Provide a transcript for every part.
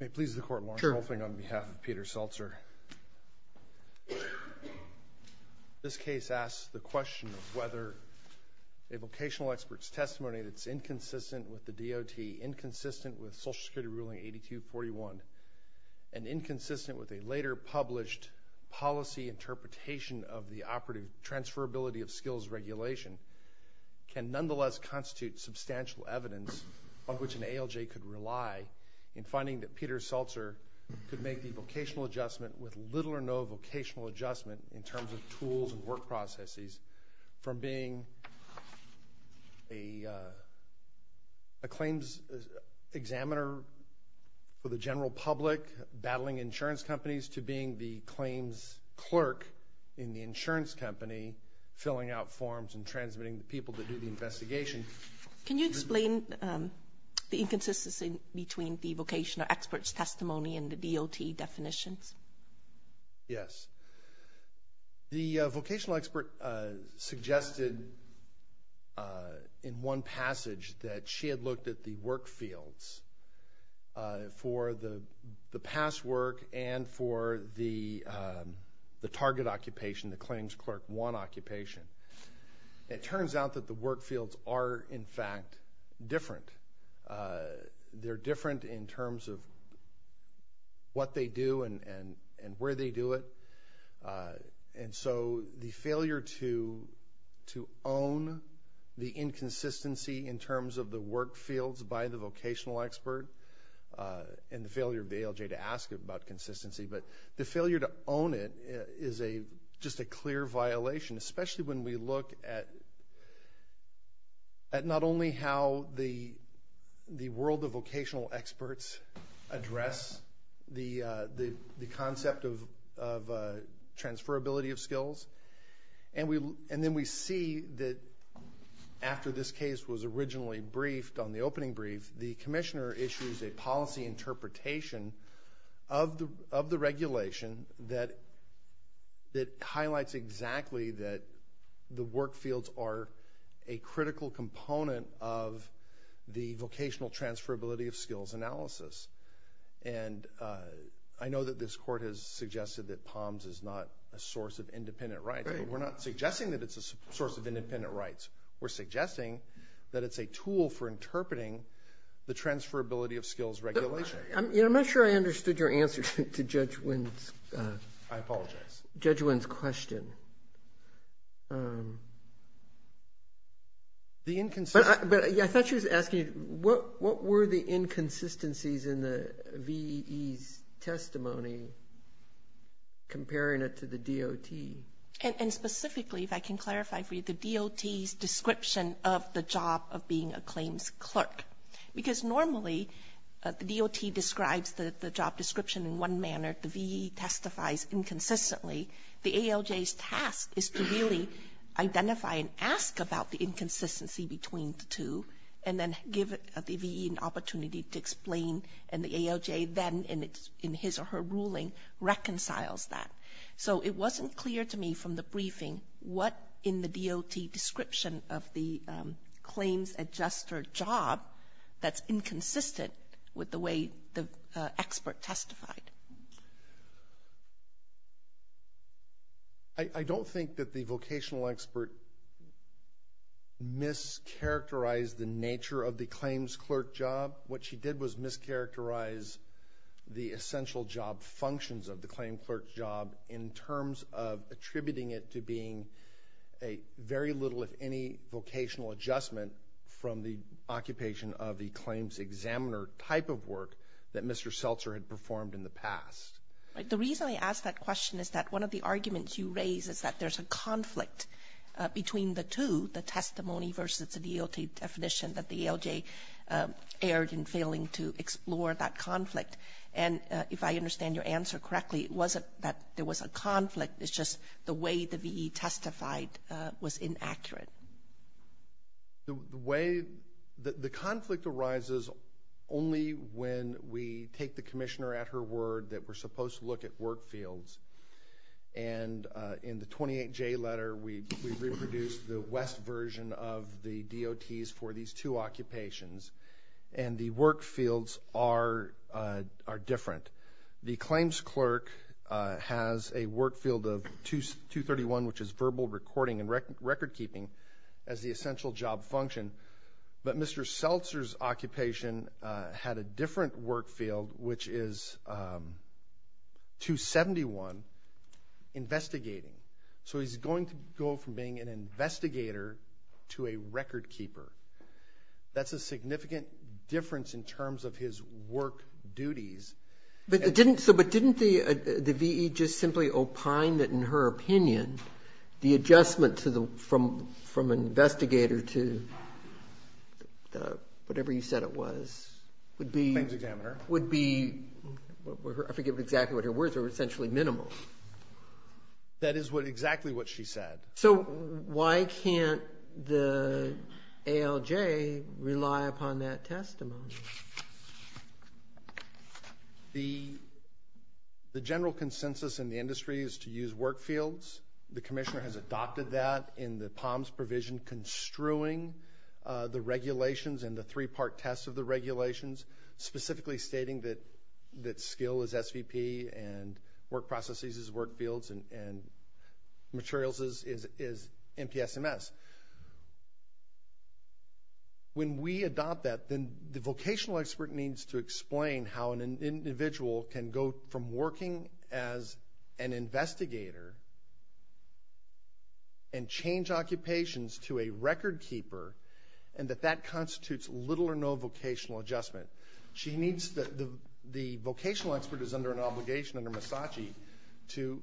May it please the Court, Lorne Colvin, on behalf of Peter Seltser. This case asks the question of whether a vocational expert's testimony that's inconsistent with the DOT, inconsistent with Social Security Ruling 8241, and inconsistent with a later published policy interpretation of the Operative Transferability of Skills Regulation can nonetheless constitute substantial evidence on which an ALJ could rely in finding that Peter Seltser could make the vocational adjustment with little or no vocational adjustment in terms of tools and work processes from being a claims examiner for the general public battling insurance companies to being the claims clerk in the insurance company filling out forms and transmitting the people to do the investigation. Can you explain the inconsistency between the vocational expert's testimony and the DOT definitions? Yes. The vocational expert suggested in one passage that she had looked at the work fields for the past work and for the target occupation, the claims clerk one occupation. It turns out that the work fields are, in fact, different. They're different in terms of what they do and where they do it. And so the failure to own the inconsistency in terms of the work fields by the vocational expert and the failure of the ALJ to ask about consistency, but the failure to own it is a clear violation, especially when we look at not only how the world of vocational experts address the concept of transferability of skills, and then we see that after this case was originally briefed on the opening brief, the commissioner issues a policy interpretation of the regulation that highlights exactly that the work fields are a critical component of the vocational transferability of skills analysis. And I know that this court has suggested that POMS is not a source of independent rights, but we're not suggesting that it's a source of independent rights. We're suggesting that it's a tool for interpreting the transferability of skills regulation. But I'm not sure I understood your answer to Judge Wynn's question. I apologize. The inconsistency. But I thought she was asking what were the inconsistencies in the VE's testimony comparing it to the DOT? And specifically, if I can clarify for you, the DOT's description of the job of being a claims clerk. Because normally, the DOT describes the job description in one manner, the VE testifies inconsistently. The ALJ's task is to really identify and ask about the inconsistency between the two, and then give the VE an opportunity to explain, and the ALJ then, in his or her ruling, reconciles that. So it wasn't clear to me from the briefing what in the DOT description of the claims adjuster job that's inconsistent with the way the expert testified. I don't think that the vocational expert mischaracterized the nature of the claims clerk job. What she did was mischaracterize the essential job functions of the claim clerk job in terms of attributing it to being a very little, if any, vocational adjustment from the occupation of the claims examiner type of work that Mr. Seltzer had performed in the past. The reason I ask that question is that one of the arguments you raise is that there's a conflict between the two, the testimony versus the DOT definition that the ALJ erred in failing to explore that conflict. And if I understand your answer correctly, it wasn't that there was a conflict, it's just the way the VE testified was inaccurate. The way, the conflict arises only when we take the commissioner at her word that we're supposed to look at work fields. And in the 28J letter, we reproduced the West version of the DOTs for these two occupations. And the work fields are different. The claims clerk has a work field of 231, which is verbal recording and record keeping as the essential job function. But Mr. Seltzer's occupation had a different work field, which is 271, investigating. So he's going to go from being an investigator to a record keeper. That's a significant difference in terms of his work duties. But didn't the VE just simply opine that, in her opinion, the adjustment from investigator to whatever you said it was would be, I forget exactly what her words were, essentially minimal? That is exactly what she said. So why can't the ALJ rely upon that testimony? The general consensus in the industry is to use work fields. The commissioner has adopted that in the POMS provision, construing the regulations and the three-part test of the regulations, specifically stating that skill is SVP and work processes is work fields and materials is MTSMS. When we adopt that, then the vocational expert needs to explain how an individual can go from working as an investigator and change occupations to a record keeper and that that constitutes little or no vocational adjustment. The vocational expert is under an obligation under MISACI to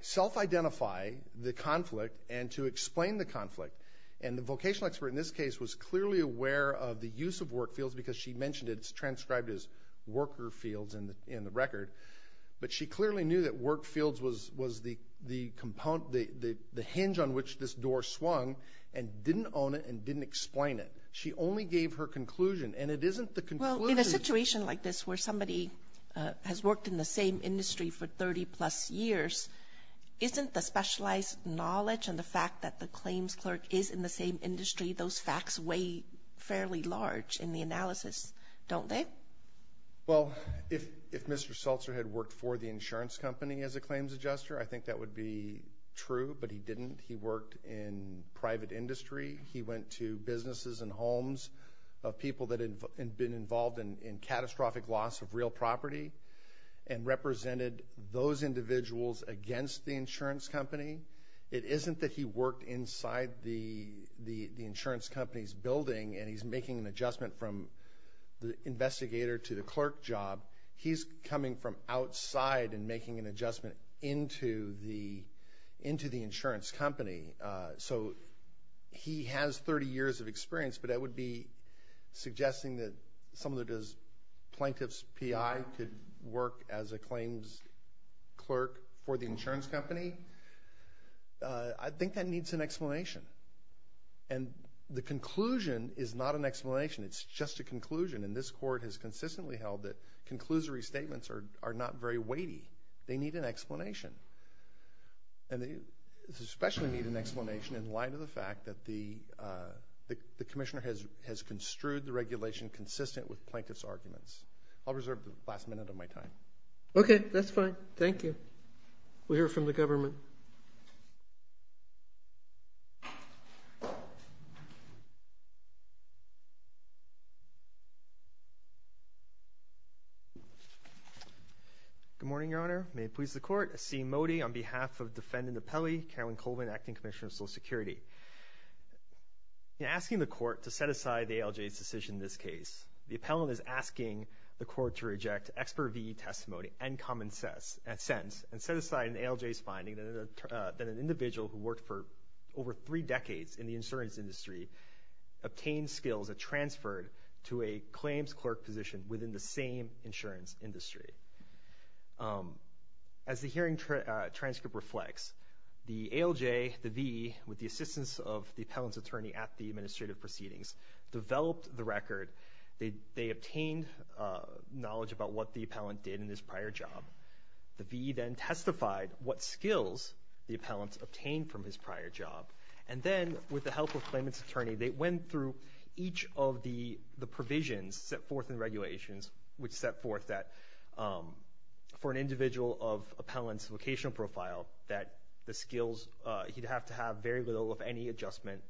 self-identify the conflict and to explain the conflict. And the vocational expert in this case was clearly aware of the use of work fields because she mentioned it. It's transcribed as worker fields in the record. But she clearly knew that work fields was the hinge on which this door swung and didn't own it and didn't explain it. She only gave her conclusion. And it isn't the conclusion. Well, in a situation like this where somebody has worked in the same industry for 30 plus years, isn't the specialized knowledge and the fact that the claims clerk is in the same Well, if Mr. Seltzer had worked for the insurance company as a claims adjuster, I think that would be true, but he didn't. He worked in private industry. He went to businesses and homes of people that had been involved in catastrophic loss of real property and represented those individuals against the insurance company. It isn't that he worked inside the insurance company's building and he's making an adjustment from the investigator to the clerk job. He's coming from outside and making an adjustment into the insurance company. So he has 30 years of experience, but I would be suggesting that someone who does plaintiff's PI could work as a claims clerk for the insurance company. I think that needs an explanation. And the conclusion is not an explanation. It's just a conclusion, and this court has consistently held that conclusory statements are not very weighty. They need an explanation. And they especially need an explanation in light of the fact that the commissioner has construed the regulation consistent with plaintiff's arguments. I'll reserve the last minute of my time. Okay. That's fine. Thank you. We'll hear from the government. Good morning, Your Honor. May it please the court. Asim Modi on behalf of defendant appellee, Carolyn Colvin, acting commissioner of Social Security. In asking the court to set aside the ALJ's decision in this case, the appellant is asking the court to reject expert VE testimony and common sense and set aside an ALJ's finding that an individual who worked for over three decades in the insurance industry obtained skills that transferred to a claims clerk position within the same insurance industry. As the hearing transcript reflects, the ALJ, the VE, with the assistance of the appellant's attorney at the administrative proceedings, developed the record. They obtained knowledge about what the appellant did in his prior job. The VE then testified what skills the appellant obtained from his prior job. And then, with the help of the claimant's attorney, they went through each of the provisions set forth in regulations, which set forth that for an individual of appellant's vocational profile that the skills, he'd have to have very little of any adjustment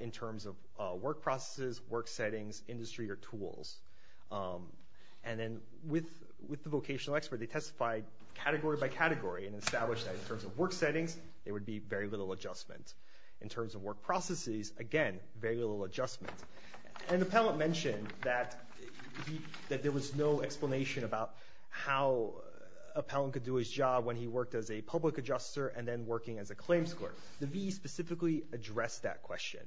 in terms of work processes, work settings, industry, or tools. And then with the vocational expert, they testified category by category and established that in terms of work settings, there would be very little adjustment. In terms of work processes, again, very little adjustment. And the appellant mentioned that there was no explanation about how appellant could do his job when he worked as a public adjuster and then working as a claims clerk. The VE specifically addressed that question.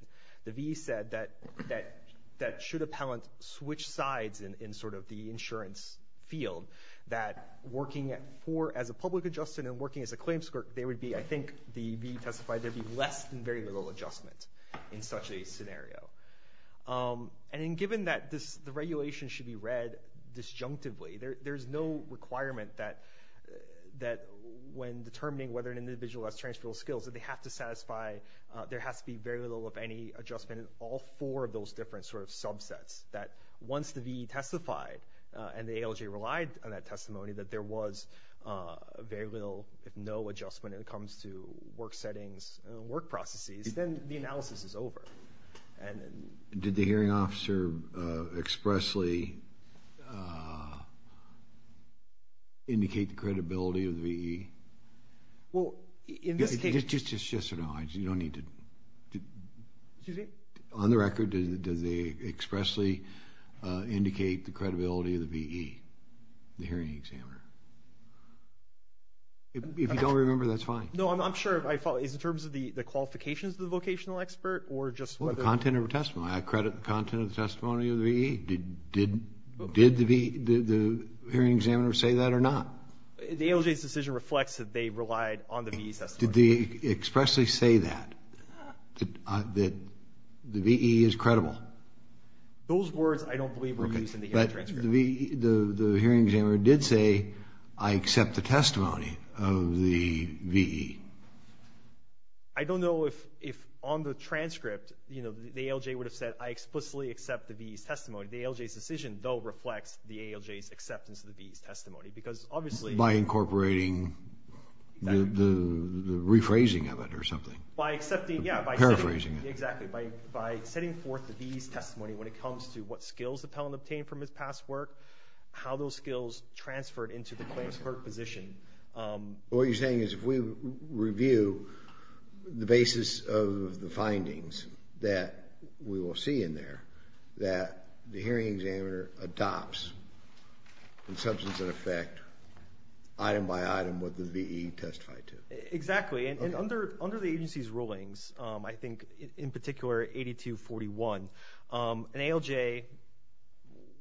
The VE said that should appellant switch sides in sort of the insurance field, that working at four as a public adjuster and working as a claims clerk, there would be, I think the VE testified, there'd be less than very little adjustment in such a scenario. And given that the regulation should be read disjunctively, there's no requirement that when determining whether an individual has transferable skills, that they have to satisfy, there has to be very little of any adjustment in all four of those different sort of subsets. That once the VE testified and the ALJ relied on that testimony, that there was very little, if no adjustment, when it comes to work settings and work processes, then the analysis is over. Did the hearing officer expressly indicate the credibility of the VE? Well, in this case... Just so you know, you don't need to... Excuse me? On the record, did they expressly indicate the credibility of the VE, the hearing examiner? If you don't remember, that's fine. No, I'm sure. I follow. It's in terms of the qualifications of the vocational expert or just whether... Well, the content of the testimony. I credit the content of the testimony of the VE. Did the hearing examiner say that or not? The ALJ's decision reflects that they relied on the VE testimony. Did they expressly say that, that the VE is credible? Those words I don't believe were used in the hearing transcript. The hearing examiner did say, I accept the testimony of the VE. I don't know if on the transcript, you know, the ALJ would have said, I explicitly accept the VE's testimony. The ALJ's decision, though, reflects the ALJ's acceptance of the VE's testimony, because obviously... By incorporating the rephrasing of it or something. By accepting, yeah. Paraphrasing it. Exactly. By setting forth the VE's testimony when it comes to what skills the appellant obtained from his past work, how those skills transferred into the claims court position. What you're saying is if we review the basis of the findings that we will see in there, that the hearing examiner adopts, in substance and effect, item by item, what the VE testified to. Exactly. And under the agency's rulings, I think in particular 8241, an ALJ,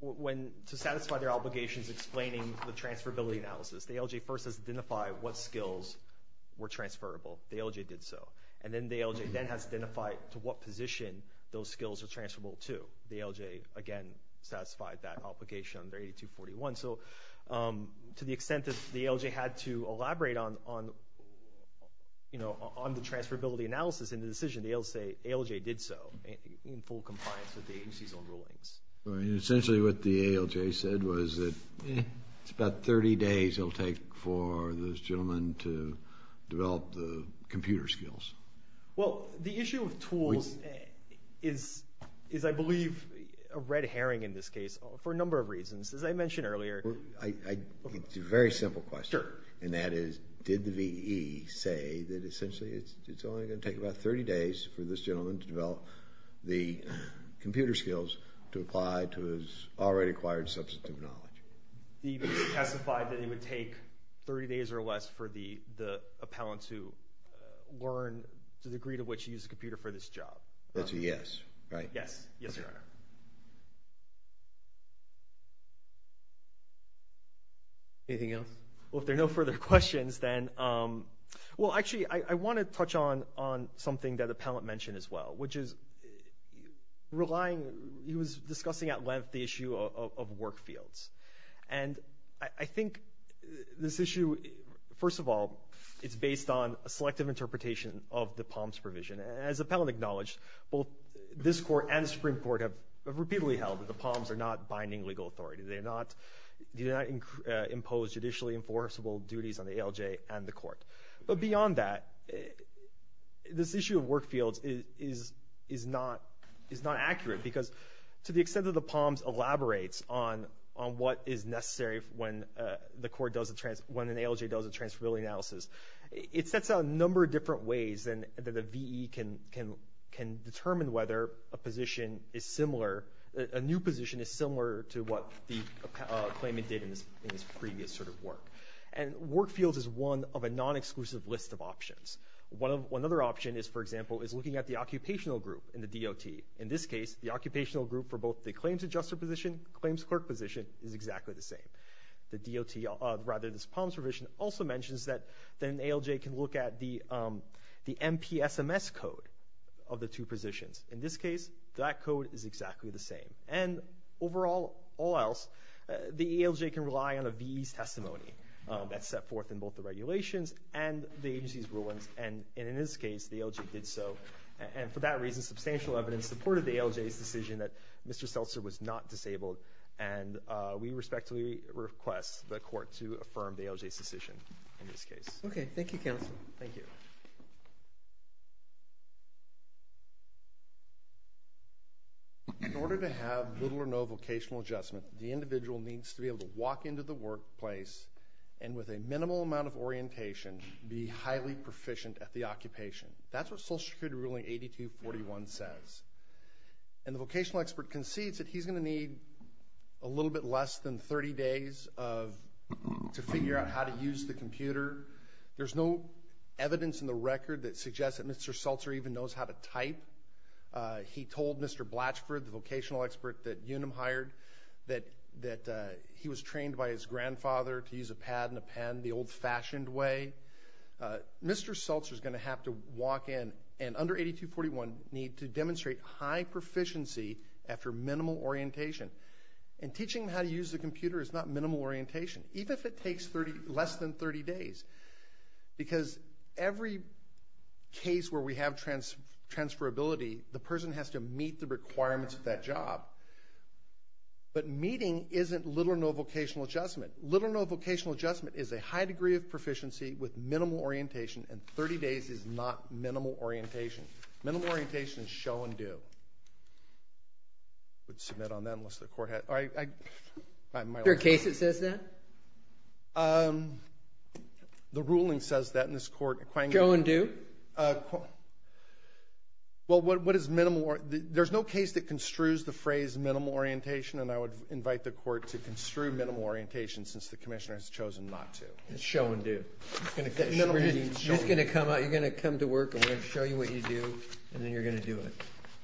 to satisfy their obligations explaining the transferability analysis, the ALJ first has to identify what skills were transferable. The ALJ did so. And then the ALJ then has to identify to what position those skills are transferable to. The ALJ, again, satisfied that obligation under 8241. So to the extent that the ALJ had to elaborate on the transferability analysis in the decision, the ALJ did so in full compliance with the agency's own rulings. Essentially what the ALJ said was that it's about 30 days it'll take for this gentleman to develop the computer skills. Well, the issue with tools is, I believe, a red herring in this case for a number of reasons. As I mentioned earlier. It's a very simple question. And that is, did the VE say that essentially it's only going to take about 30 days for this gentleman to develop the computer skills to apply to his already acquired substantive knowledge? The VE testified that it would take 30 days or less for the appellant to learn the degree to which to use a computer for this job. That's a yes, right? Yes. Yes, Your Honor. Anything else? Well, if there are no further questions, then, well, actually, I want to touch on something that the appellant mentioned as well, which is relying, he was discussing at length the I think this issue, first of all, it's based on a selective interpretation of the POMS provision. And as the appellant acknowledged, both this court and the Supreme Court have repeatedly held that the POMS are not binding legal authority. They do not impose judicially enforceable duties on the ALJ and the court. But beyond that, this issue of work fields is not accurate because to the extent that is necessary when an ALJ does a transferability analysis, it sets out a number of different ways that the VE can determine whether a position is similar, a new position is similar to what the claimant did in his previous sort of work. And work fields is one of a non-exclusive list of options. Another option is, for example, is looking at the occupational group in the DOT. In this case, the occupational group for both the claims adjuster position, claims clerk position is exactly the same. The DOT, rather this POMS provision also mentions that an ALJ can look at the MPSMS code of the two positions. In this case, that code is exactly the same. And overall, all else, the ALJ can rely on a VE's testimony that's set forth in both the regulations and the agency's rulings. And in this case, the ALJ did so. And for that reason, substantial evidence supported the ALJ's decision that Mr. Seltzer was not disabled. And we respectfully request the court to affirm the ALJ's decision in this case. Okay. Thank you, counsel. Thank you. In order to have little or no vocational adjustment, the individual needs to be able to walk into the workplace and with a minimal amount of orientation, be highly proficient at the occupation. That's what Social Security Ruling 8241 says. And the vocational expert concedes that he's going to need a little bit less than 30 days to figure out how to use the computer. There's no evidence in the record that suggests that Mr. Seltzer even knows how to type. He told Mr. Blatchford, the vocational expert that UNUM hired, that he was trained by his grandfather to use a pad and a pen the old-fashioned way. Mr. Seltzer is going to have to walk in and, under 8241, need to demonstrate high proficiency after minimal orientation. And teaching him how to use the computer is not minimal orientation, even if it takes less than 30 days. Because every case where we have transferability, the person has to meet the requirements of that job. But meeting isn't little or no vocational adjustment. Little or no vocational adjustment is a high degree of proficiency with minimal orientation, and 30 days is not minimal orientation. Minimal orientation is show and do. I would submit on that unless the court had... Is there a case that says that? The ruling says that in this court. Show and do? Well, what is minimal orientation? There's no case that construes the phrase minimal orientation, and I would invite the commission, since the commissioner has chosen not to, to show and do. You're going to come to work, and we're going to show you what you do, and then you're going to do it.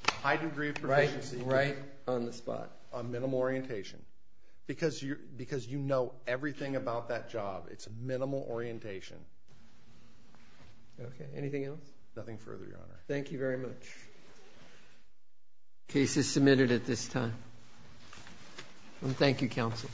A high degree of proficiency. Right on the spot. On minimal orientation. Because you know everything about that job. It's minimal orientation. Okay. Anything else? Nothing further, Your Honor. Thank you very much. Case is submitted at this time. Thank you, counsel.